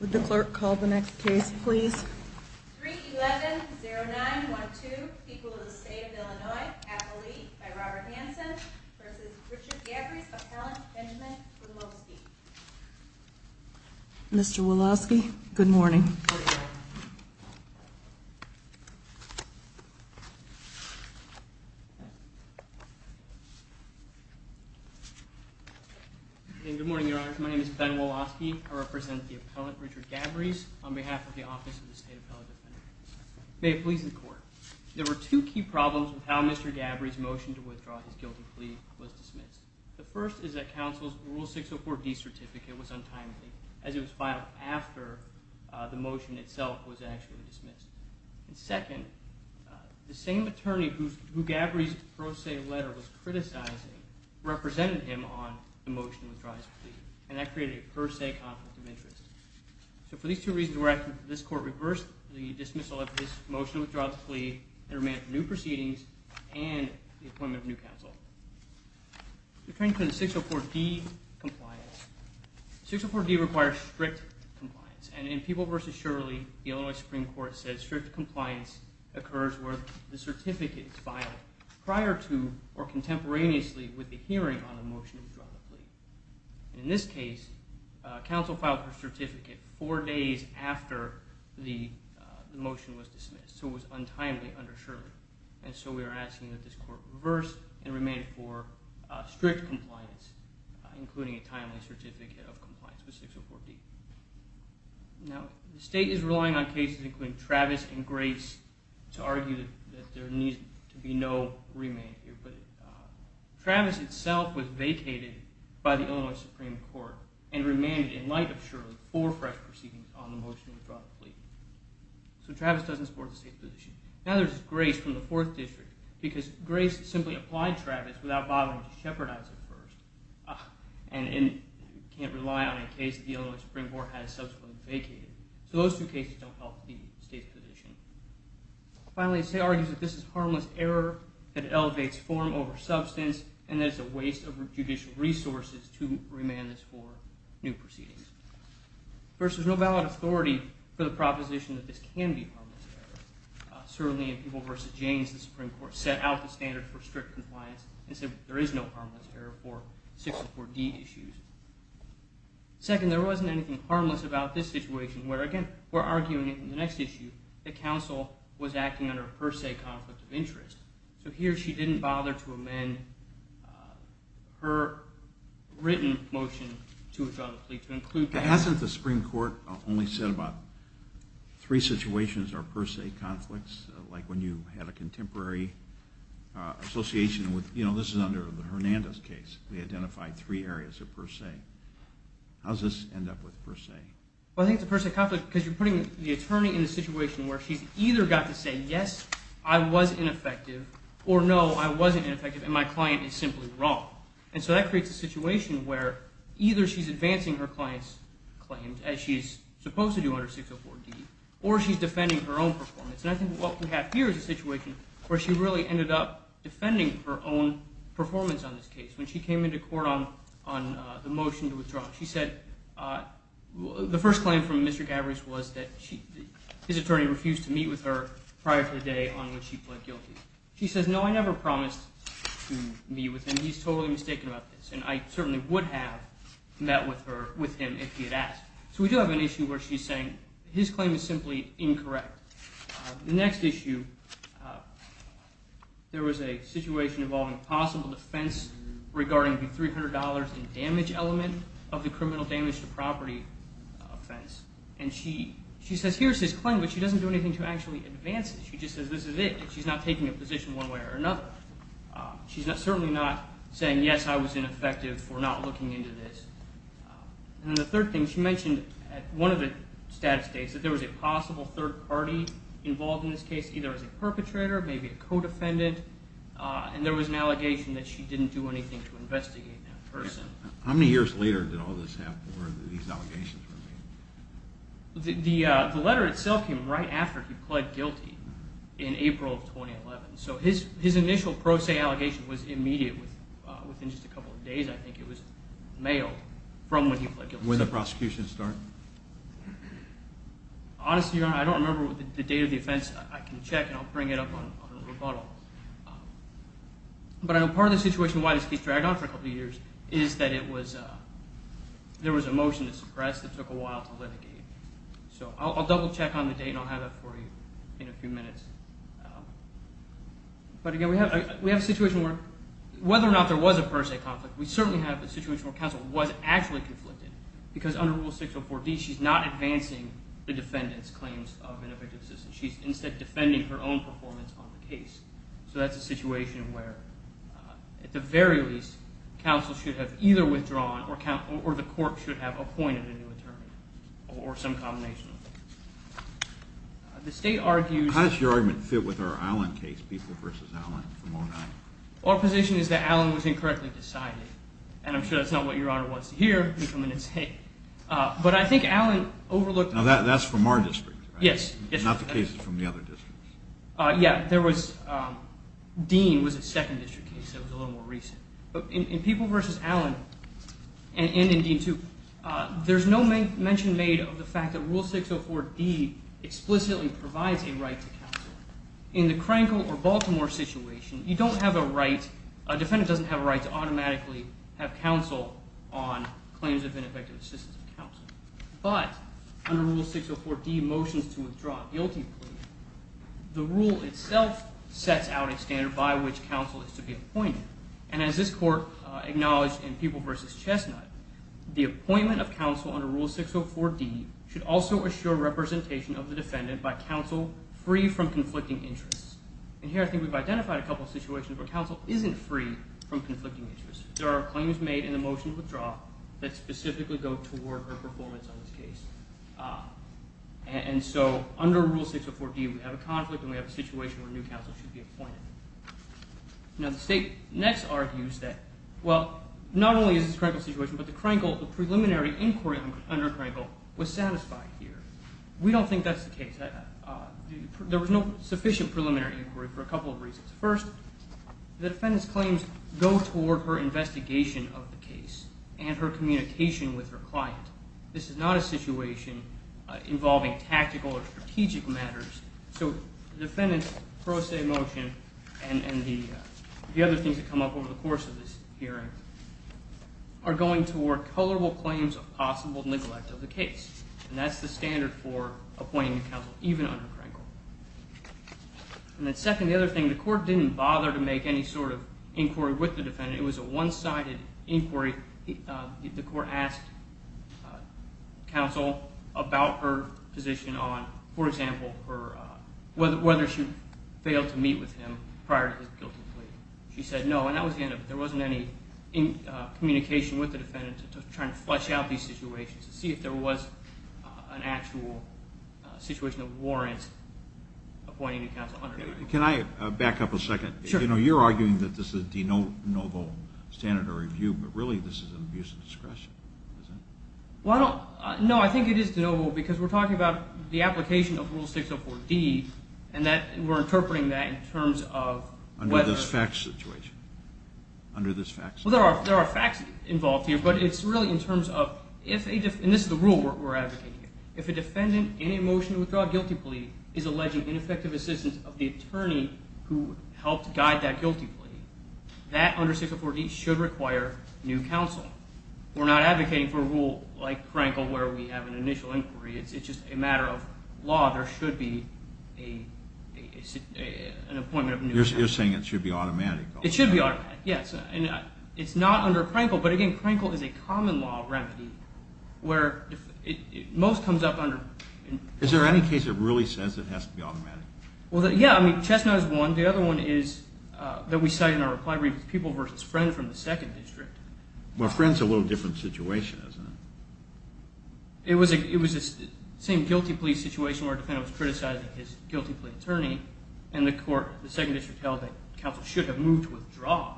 would the clerk call the next case please mr. Wolofsky good morning good morning your honor my name is Ben Wolofsky I represent the appellant Richard Gabrys on behalf of the office of the state appellate may it please the court there were two key problems with how mr. Gabrys motion to withdraw his guilty plea was dismissed the first is that counsel's rule 604 D certificate was untimely as it was filed after the motion itself was actually dismissed and second the same attorney who Gabrys pro se letter was criticizing represented him on the motion withdraws plea and that created a per se conflict of interest so for these two reasons were active this court reversed the dismissal of this motion withdraw the plea and remand new proceedings and the 604 D requires strict compliance and in people versus Shirley the Illinois Supreme Court says strict compliance occurs where the certificate is filed prior to or contemporaneously with the hearing on the motion to draw the plea in this case counsel filed for certificate four days after the motion was dismissed so it was untimely underserved and so we are asking that this court reverse and remain for strict compliance including a timely certificate of compliance with 604 D now the state is relying on cases including Travis and grace to argue that there needs to be no remand here but Travis itself was vacated by the Illinois Supreme Court and remanded in light of Shirley for fresh proceedings on the motion to withdraw the plea so Travis doesn't support the state position now there's grace from the fourth district because grace simply applied Travis without bothering to can't rely on a case the Illinois Supreme Court has subsequently vacated so those two cases don't help the state's position finally say argues that this is harmless error that elevates form over substance and there's a waste of judicial resources to remand this for new proceedings first there's no valid authority for the proposition that this can be certainly in people versus James the Supreme Court set out the standard for strict compliance and said there is no harmless error for 604 D issues second there wasn't anything harmless about this situation where again we're arguing in the next issue the council was acting under a per se conflict of interest so here she didn't bother to amend her written motion to include that hasn't the Supreme Court only said about three situations are per se conflicts like when you had a case we identified three areas of per se how's this end up with per se well I think the per se conflict because you're putting the attorney in a situation where she's either got to say yes I was ineffective or no I wasn't effective and my client is simply wrong and so that creates a situation where either she's advancing her clients claims as she's supposed to do under 604 D or she's defending her own performance and I think what we have here is a situation where she really ended up defending her own performance on this case when she came into court on on the motion to withdraw she said the first claim from Mr. Gavris was that she his attorney refused to meet with her prior to the day on which he pled guilty she says no I never promised to meet with him he's totally mistaken about this and I certainly would have met with her with him if he had asked so we do have an issue where she's saying his claim is there was a situation involving possible defense regarding the $300 in damage element of the criminal damage to property offense and she she says here's his claim but she doesn't do anything to actually advance it she just says this is it she's not taking a position one way or another she's not certainly not saying yes I was ineffective for not looking into this and the third thing she mentioned at one of the status states that there was a possible third party involved in this case either as a perpetrator maybe a co-defendant and there was an allegation that she didn't do anything to investigate that person how many years later did all this happen where these allegations were made. The letter itself came right after he pled guilty in April of 2011 so his his initial pro se allegation was immediate within just a couple of days I think it was mailed from when he started. Honestly I don't remember the date of the offense I can check and I'll bring it up on a rebuttal. But I know part of the situation why this case dragged on for a couple of years is that it was there was a motion to suppress that took a while to litigate. So I'll double check on the date and I'll have it for you in a few minutes. But again we have a situation where whether or not there was a per se conflict we certainly have a situation where counsel was actually conflicted because under Rule 604D she's not advancing the defendant's claims of an evicted assistant. She's instead defending her own performance on the case. So that's a situation where at the very least counsel should have either withdrawn or the court should have appointed a new attorney or some combination. The state argues How does your argument fit with our Allen case, People v. Allen? Our position is that Allen was incorrectly decided and I'm sure that's not what your honor wants to hear. But I think Allen overlooked. Now that's from our district. Yes. Not the cases from the other districts. Yeah there was Dean was a second district case that was a little more recent. In People v. Allen and in Dean too there's no mention made of the fact that Rule 604D explicitly provides a right to counsel. In the Crankville or Baltimore situation you don't have a right, a defendant doesn't have a right to automatically have counsel on claims of an evicted assistant of counsel. But under Rule 604D motions to withdraw a guilty plea. The rule itself sets out a standard by which counsel is to be appointed. And as this court acknowledged in People v. Chestnut, the appointment of counsel under Rule 604D should also assure representation of the defendant by counsel free from conflicting interests. And here I think we've identified a couple of situations where counsel isn't free from conflicting interests. There are claims made in the motion to withdraw that specifically go toward her performance on this case. And so under Rule 604D we have a conflict and we have a situation where a new counsel should be appointed. Now the state next argues that well, not only is this a Crankville situation, but the preliminary inquiry under Crankville was satisfied here. We don't think that's the case. There was no sufficient preliminary inquiry for a couple of reasons. First, the defendant's claims go toward her investigation of the case and her communication with her client. This is not a situation involving tactical or strategic matters. So the defendant's pro se motion and the other things that come up over the course of this hearing are going toward colorable claims of possible neglect of the case. And that's the standard for appointing a counsel even under Crankville. And then second, the other thing, the court didn't bother to make any sort of inquiry with the defendant. It was a one-sided inquiry. The court asked counsel about her position on, for example, whether she failed to meet with him prior to his guilty plea. She said no, and that was the end of it. There wasn't any communication with the defendant to try and flesh out these situations to see if there was an actual situation that warrants appointing a counsel under Crankville. Can I back up a second? You're arguing that this is de novo standard of review, but really this is an abuse of discretion, isn't it? No, I think it is de novo because we're talking about the application of Rule 604D, and we're interpreting that in terms of whether… Under this facts situation? Well, there are facts involved here, but it's really in terms of, and this is the rule we're advocating, if a defendant in a motion to withdraw a guilty plea is alleging ineffective assistance of the attorney who helped guide that guilty plea, that under 604D should require new counsel. We're not advocating for a rule like Crankville where we have an initial inquiry. It's just a matter of law. There should be an appointment of new counsel. You're saying it should be automatic? It should be automatic, yes. It's not under Crankville, but again, Crankville is a common law remedy where most comes up under… Is there any case that really says it has to be automatic? Well, yeah. I mean, Chestnut is one. The other one is that we cite in our reply brief, People v. Friend from the 2nd District. Well, Friend's a little different situation, isn't it? It was the same guilty plea situation where a defendant was criticizing his guilty plea attorney, and the court, the 2nd District held that counsel should have moved to withdraw.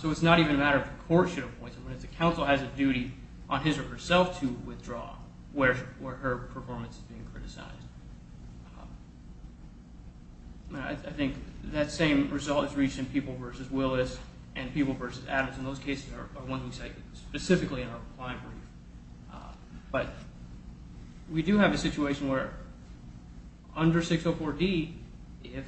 So it's not even a matter of the court should appoint someone. It's the counsel has a duty on his or herself to withdraw where her performance is being criticized. I think that same result is reached in People v. Willis and People v. Adams, and those cases are ones we cite specifically in our reply brief. But we do have a situation where under 604D, if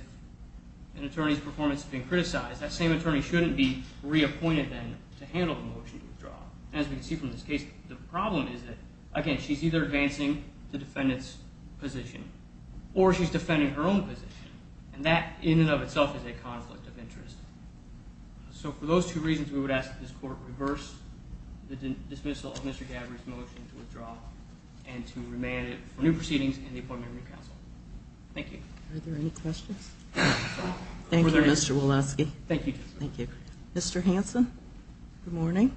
an attorney's performance is being criticized, that same attorney shouldn't be reappointed then to handle the motion to withdraw. As we can see from this case, the problem is that, again, she's either advancing the defendant's position or she's defending her own position, and that in and of itself is a conflict of interest. So for those two reasons, we would ask that this court reverse the dismissal of Mr. Gabbard's motion to withdraw and to remand it for new proceedings and the appointment of a new counsel. Thank you. Are there any questions? Thank you, Mr. Woloski. Thank you. Mr. Hanson, good morning.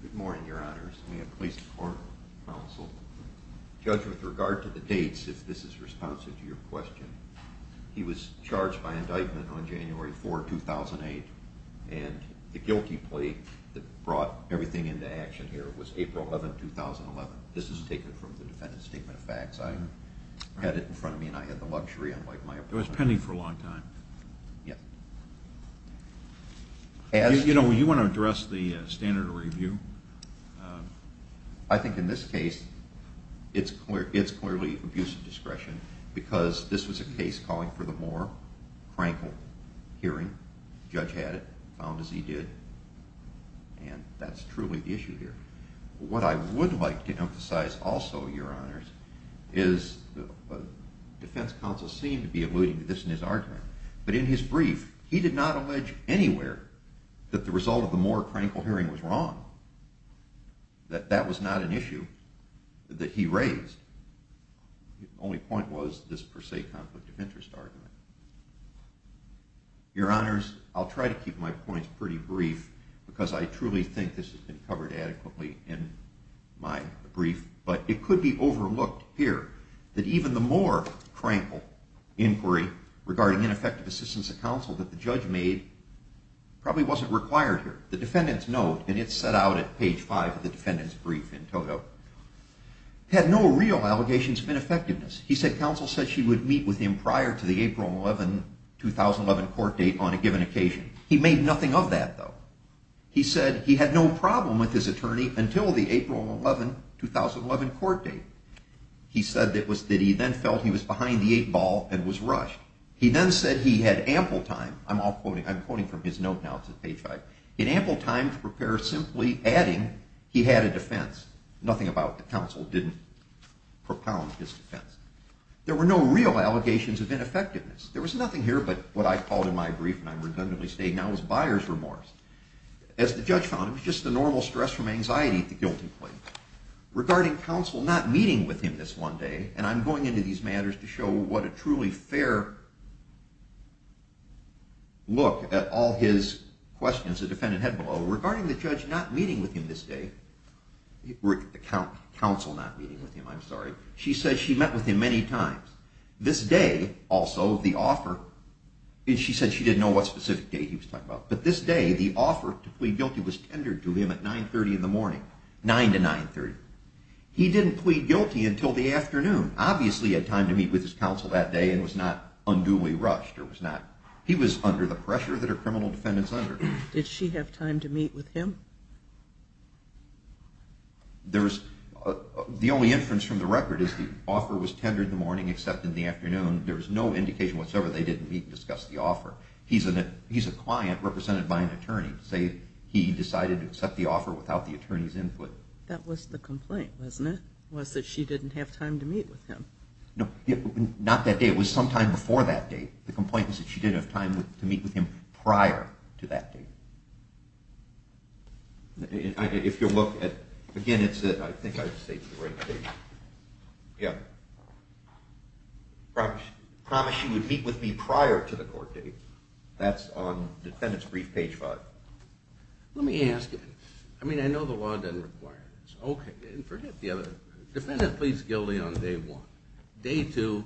Good morning, Your Honors. We have police court counsel. Judge, with regard to the dates, if this is responsive to your question, he was charged by indictment on January 4, 2008, and the guilty plea that brought everything into action here was April 11, 2011. This is taken from the defendant's statement of facts. I had it in front of me, and I had the luxury, unlike my opponent. It was pending for a long time. Yes. You know, you want to address the standard review. I think in this case, it's clearly abuse of discretion because this was a case calling for the Moore-Crankle hearing. The judge had it, found as he did, and that's truly the issue here. What I would like to emphasize also, Your Honors, is defense counsel seemed to be alluding to this in his argument. But in his brief, he did not allege anywhere that the result of the Moore-Crankle hearing was wrong, that that was not an issue that he raised. The only point was this per se conflict of interest argument. Your Honors, I'll try to keep my points pretty brief because I truly think this has been covered adequately in my brief. But it could be overlooked here that even the Moore-Crankle inquiry regarding ineffective assistance of counsel that the judge made probably wasn't required here. The defendant's note, and it's set out at page 5 of the defendant's brief in Togo, had no real allegations of ineffectiveness. He said counsel said she would meet with him prior to the April 11, 2011 court date on a given occasion. He made nothing of that, though. He said he had no problem with his attorney until the April 11, 2011 court date. He said that he then felt he was behind the eight ball and was rushed. He then said he had ample time, I'm quoting from his note now, it's at page 5, in ample time to prepare simply adding he had a defense. Nothing about the counsel didn't propound his defense. There were no real allegations of ineffectiveness. There was nothing here but what I called in my brief, and I'm redundantly stating now, was buyer's remorse. As the judge found, it was just the normal stress from anxiety at the guilty plea. Regarding counsel not meeting with him this one day, and I'm going into these matters to show what a truly fair look at all his questions is, there's a defendant head below. Regarding the judge not meeting with him this day, the counsel not meeting with him, I'm sorry, she said she met with him many times. This day, also, the offer, she said she didn't know what specific day he was talking about, but this day the offer to plead guilty was tendered to him at 9.30 in the morning, 9 to 9.30. He didn't plead guilty until the afternoon. Obviously, he had time to meet with his counsel that day and was not unduly rushed. He was under the pressure that a criminal defendant is under. Did she have time to meet with him? The only inference from the record is the offer was tendered in the morning except in the afternoon. There was no indication whatsoever they didn't meet and discuss the offer. He's a client represented by an attorney. Say he decided to accept the offer without the attorney's input. That was the complaint, wasn't it? It was that she didn't have time to meet with him. No, not that day. It was sometime before that date. The complaint was that she didn't have time to meet with him prior to that date. If you'll look at, again, it's a, I think I've saved the right page. Yeah. Promise she would meet with me prior to the court date. That's on defendant's brief page five. Let me ask you, I mean, I know the law doesn't require this. Okay, and forget the other, defendant pleads guilty on day one. Day two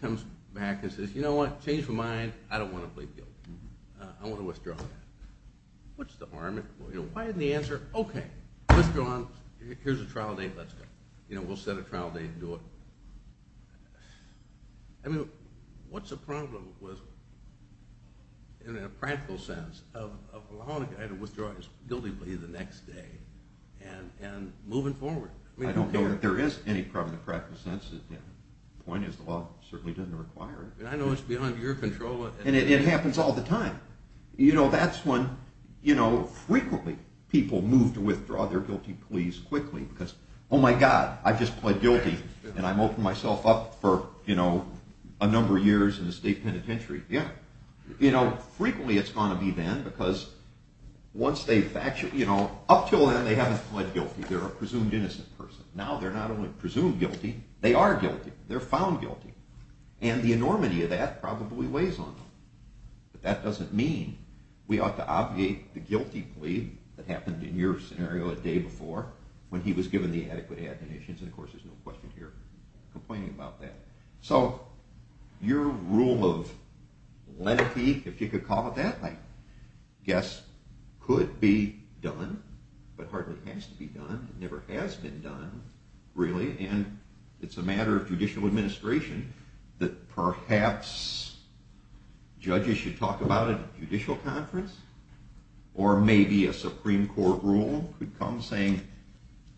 comes back and says, you know what, change of mind, I don't want to plead guilty. I want to withdraw. What's the harm? Why isn't the answer, okay, let's go on, here's a trial date, let's go. You know, we'll set a trial date and do it. I mean, what's the problem with, in a practical sense, of allowing a guy to withdraw his guilty plea the next day and moving forward? I don't know that there is any problem in the practical sense. The point is the law certainly doesn't require it. I know it's beyond your control. And it happens all the time. You know, that's when, you know, frequently people move to withdraw their guilty pleas quickly because, oh, my God, I just pled guilty, and I've opened myself up for, you know, a number of years in the state penitentiary. Yeah. You know, frequently it's going to be then because once they, you know, up until then they haven't pled guilty. They're a presumed innocent person. Now they're not only presumed guilty, they are guilty. They're found guilty. And the enormity of that probably weighs on them. But that doesn't mean we ought to obviate the guilty plea that happened in your scenario a day before when he was given the adequate admonitions. And, of course, there's no question here complaining about that. So your rule of lenity, if you could call it that, I guess could be done but hardly has to be done. It never has been done, really. And it's a matter of judicial administration that perhaps judges should talk about it at a judicial conference. Or maybe a Supreme Court rule could come saying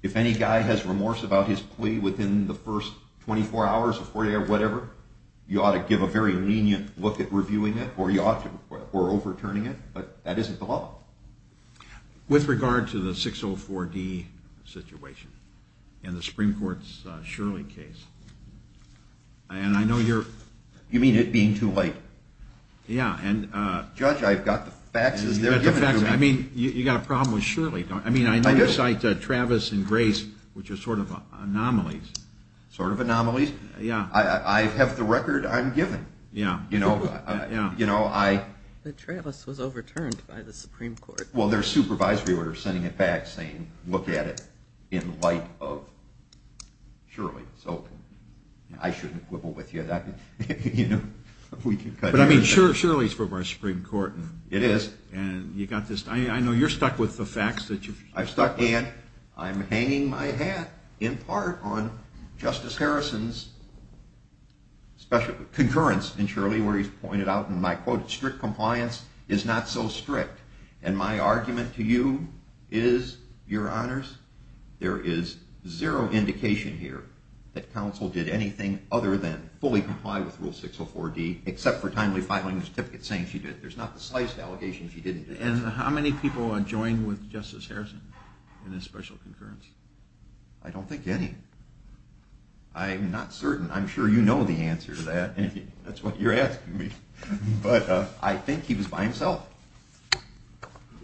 if any guy has remorse about his plea within the first 24 hours or whatever, you ought to give a very lenient look at reviewing it or overturning it. But that isn't the law. With regard to the 604D situation and the Supreme Court's Shirley case, and I know you're... You mean it being too late? Yeah, and... Judge, I've got the faxes they're giving me. You've got the faxes. I mean, you've got a problem with Shirley, don't you? I mean, I know you cite Travis and Grace, which are sort of anomalies. Sort of anomalies? Yeah. I have the record I'm given. Yeah. You know, I... Travis was overturned by the Supreme Court. Well, their supervisory order sending it back saying look at it in light of Shirley. So I shouldn't quibble with you. But, I mean, Shirley's from our Supreme Court. It is. And you've got this. I know you're stuck with the facts that you've... I'm stuck, and I'm hanging my hat in part on Justice Harrison's concurrence in Shirley where he's pointed out, and I quote, strict compliance is not so strict. And my argument to you is, Your Honors, there is zero indication here that counsel did anything other than fully comply with Rule 604D except for timely filing a certificate saying she did it. There's not the sliced allegation she didn't do it. And how many people are joined with Justice Harrison in this special concurrence? I don't think any. I'm not certain. I'm sure you know the answer to that. That's what you're asking me. But I think he was by himself.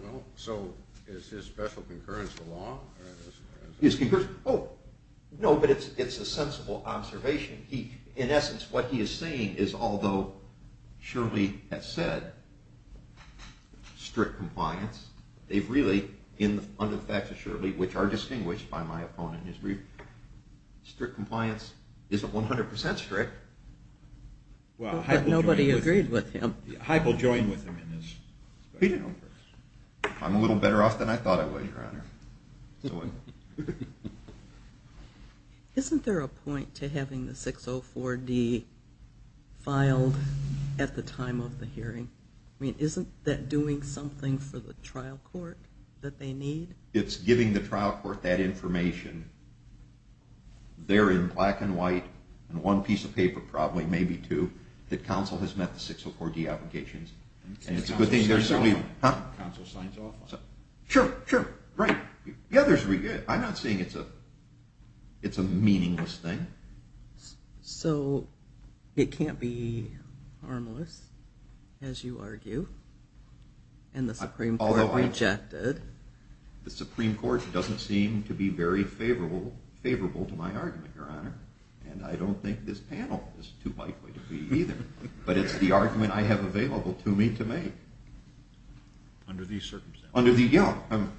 Well, so is his special concurrence the law? His concurrence? Oh, no, but it's a sensible observation. In essence, what he is saying is although Shirley has said strict compliance, they've really, under the facts of Shirley, which are distinguished by my opponent in his brief, strict compliance isn't 100% strict. But nobody agreed with him. Hype will join with him in his special concurrence. I'm a little better off than I thought I was, Your Honor. Isn't there a point to having the 604D filed at the time of the hearing? I mean, isn't that doing something for the trial court that they need? It's giving the trial court that information there in black and white and one piece of paper, probably, maybe two, that counsel has met the 604D applications. Counsel signs off on it. Sure, sure, right. I'm not saying it's a meaningless thing. So it can't be harmless, as you argue, and the Supreme Court rejected. The Supreme Court doesn't seem to be very favorable to my argument, Your Honor, and I don't think this panel is too likely to be either. But it's the argument I have available to me to make. Under these circumstances? Under the young.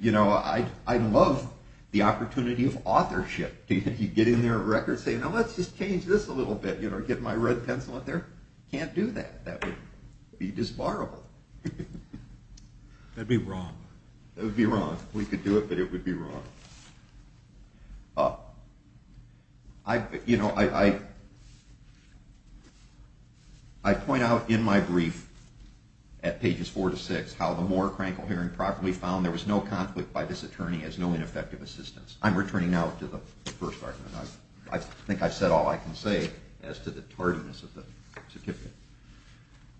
You know, I love the opportunity of authorship. You get in there at record saying, now let's just change this a little bit, you know, get my red pencil out there. Can't do that. That would be disbarrable. That would be wrong. That would be wrong. We could do it, but it would be wrong. You know, I point out in my brief at pages four to six how the Moore-Crankel hearing properly found there was no conflict by this attorney as no ineffective assistance. I'm returning now to the first argument. I think I've said all I can say as to the tardiness of the certificate.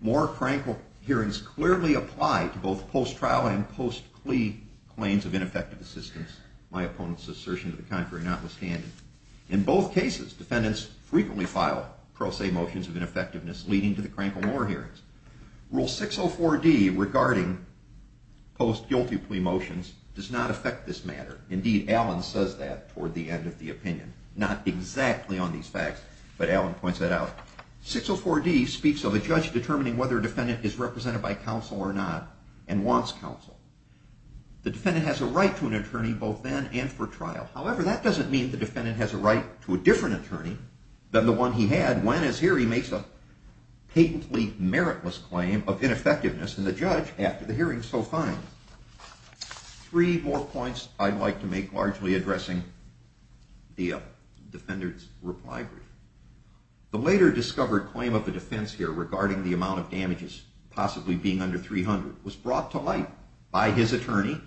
Moore-Crankel hearings clearly apply to both post-trial and post-plea claims of ineffective assistance, my opponent's assertion to the contrary notwithstanding. In both cases, defendants frequently file pro se motions of ineffectiveness leading to the Crankel-Moore hearings. Rule 604D regarding post-guilty plea motions does not affect this matter. Indeed, Allen says that toward the end of the opinion. Not exactly on these facts, but Allen points that out. 604D speaks of a judge determining whether a defendant is represented by counsel or not and wants counsel. The defendant has a right to an attorney both then and for trial. However, that doesn't mean the defendant has a right to a different attorney than the one he had when, as here, he makes a patently meritless claim of ineffectiveness in the judge after the hearing so fine. Three more points I'd like to make largely addressing the defendant's reply brief. This, possibly being under 300, was brought to light by his attorney,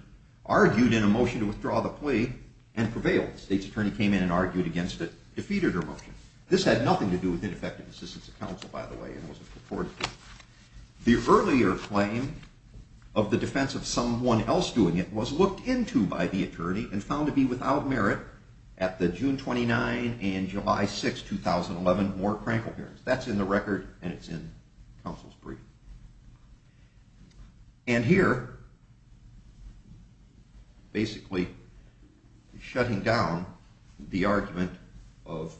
argued in a motion to withdraw the plea, and prevailed. The state's attorney came in and argued against it, defeated her motion. This had nothing to do with ineffective assistance of counsel, by the way, and wasn't purported to. The earlier claim of the defense of someone else doing it was looked into by the attorney and found to be without merit at the June 29 and July 6, 2011, Moore-Crankel hearings. That's in the record and it's in counsel's brief. And here, basically shutting down the argument of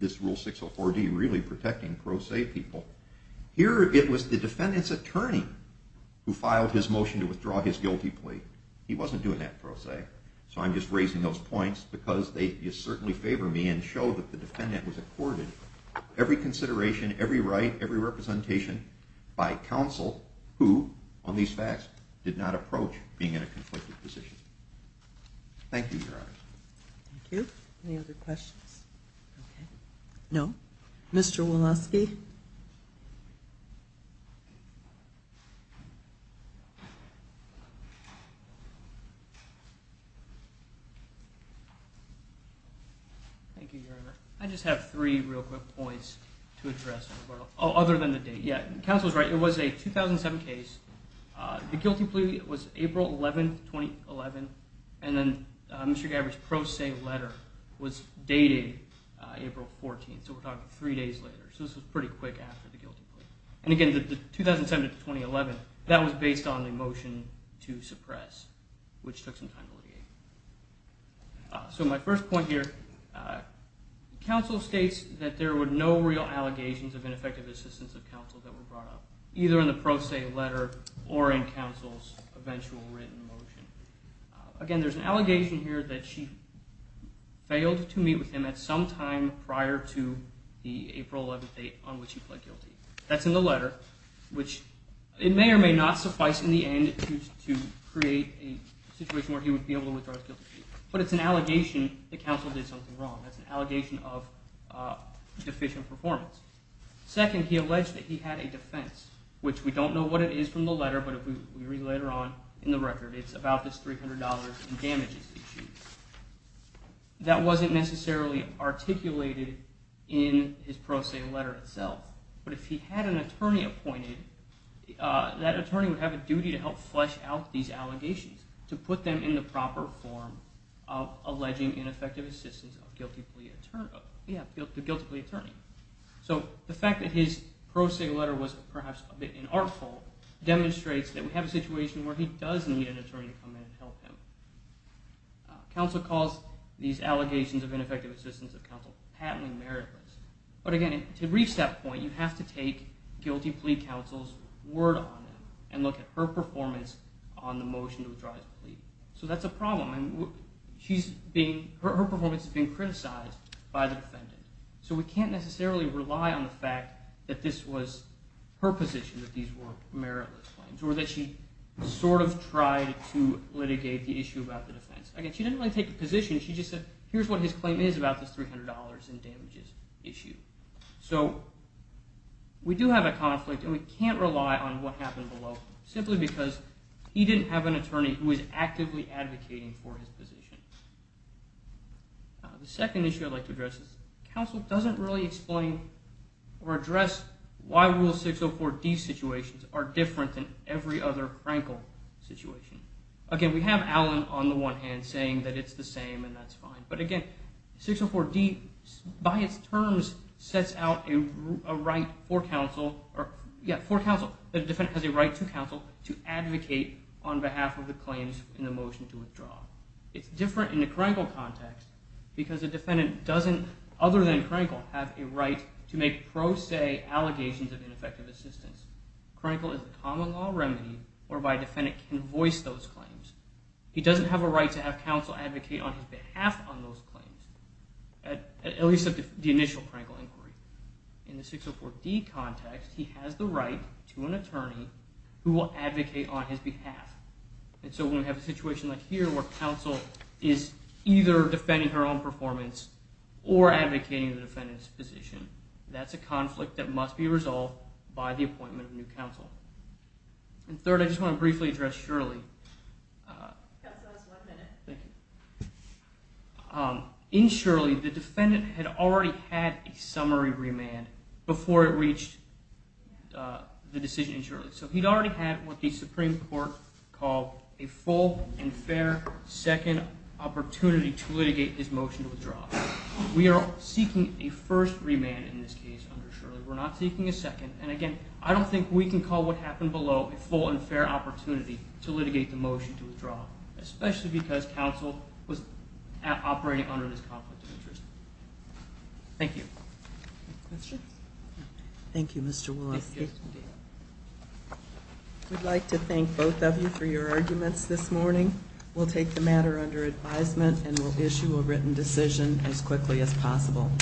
this Rule 604D really protecting pro se people, here it was the defendant's attorney who filed his motion to withdraw his guilty plea. He wasn't doing that pro se, so I'm just raising those points because they certainly favor me and show that the defendant was accorded every consideration, every right, every representation by counsel who, on these facts, did not approach being in a conflicted position. Thank you, Your Honor. Thank you. Any other questions? No? Mr. Woloski? Thank you, Your Honor. I just have three real quick points to address. Oh, other than the date. Yeah, counsel's right. It was a 2007 case. The guilty plea was April 11, 2011, and then Mr. Gabbard's pro se letter was dated April 14, so we're talking three days later. So this was pretty quick after the guilty plea. And again, the 2007 to 2011, that was based on the motion to suppress, which took some time to litigate. So my first point here, counsel states that there were no real allegations of ineffective assistance of counsel that were brought up, either in the pro se letter or in counsel's eventual written motion. Again, there's an allegation here that she failed to meet with him at some time prior to the April 11 date on which he pled guilty. That's in the letter, which it may or may not suffice in the end to create a situation where he would be able to withdraw his guilty plea. But it's an allegation that counsel did something wrong. That's an allegation of deficient performance. Second, he alleged that he had a defense, which we don't know what it is from the letter, but if we read later on in the record, it's about this $300 in damages issue. That wasn't necessarily articulated in his pro se letter itself, but if he had an attorney appointed, that attorney would have a duty to help flesh out these allegations, to put them in the proper form of alleging ineffective assistance of the guilty plea attorney. So the fact that his pro se letter was perhaps a bit inartful demonstrates that we have a situation where he does need an attorney to come in and help him. Counsel calls these allegations of ineffective assistance of counsel patently meritless. But again, to reach that point, you have to take guilty plea counsel's word on them and look at her performance on the motion to withdraw his plea. So that's a problem. Her performance has been criticized by the defendant. So we can't necessarily rely on the fact that this was her position, that these were meritless claims, or that she sort of tried to litigate the issue about the defense. Again, she didn't really take a position. She just said, here's what his claim is about this $300 in damages issue. So we do have a conflict, and we can't rely on what happened below, simply because he didn't have an attorney who was actively advocating for his position. The second issue I'd like to address is, counsel doesn't really explain or address why Rule 604D situations are different than every other Frankel situation. Again, we have Allen, on the one hand, saying that it's the same and that's fine. But again, 604D, by its terms, sets out a right for counsel that a defendant has a right to counsel to advocate on behalf of the claims in the motion to withdraw. It's different in the Frankel context because a defendant doesn't, other than Frankel, have a right to make pro se allegations of ineffective assistance. Frankel is a common law remedy whereby a defendant can voice those claims. He doesn't have a right to have counsel advocate on his behalf on those claims, at least of the initial Frankel inquiry. In the 604D context, he has the right to an attorney who will advocate on his behalf. So when we have a situation like here, where counsel is either defending her own performance or advocating the defendant's position, that's a conflict that must be resolved by the appointment of new counsel. Third, I just want to briefly address Shirley. In Shirley, the defendant had already had a summary remand before it reached the decision in Shirley. So he'd already had what the Supreme Court called a full and fair second opportunity to litigate his motion to withdraw. We are seeking a first remand in this case under Shirley. We're not seeking a second. And again, I don't think we can call what happened below a full and fair opportunity to litigate the motion to withdraw, especially because counsel was operating under this conflict of interest. Thank you. Thank you, Mr. Woloski. We'd like to thank both of you for your arguments this morning. We'll take the matter under advisement and we'll issue a written decision as quickly as possible.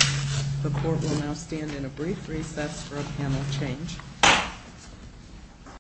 The court will now stand in a brief recess for a panel change.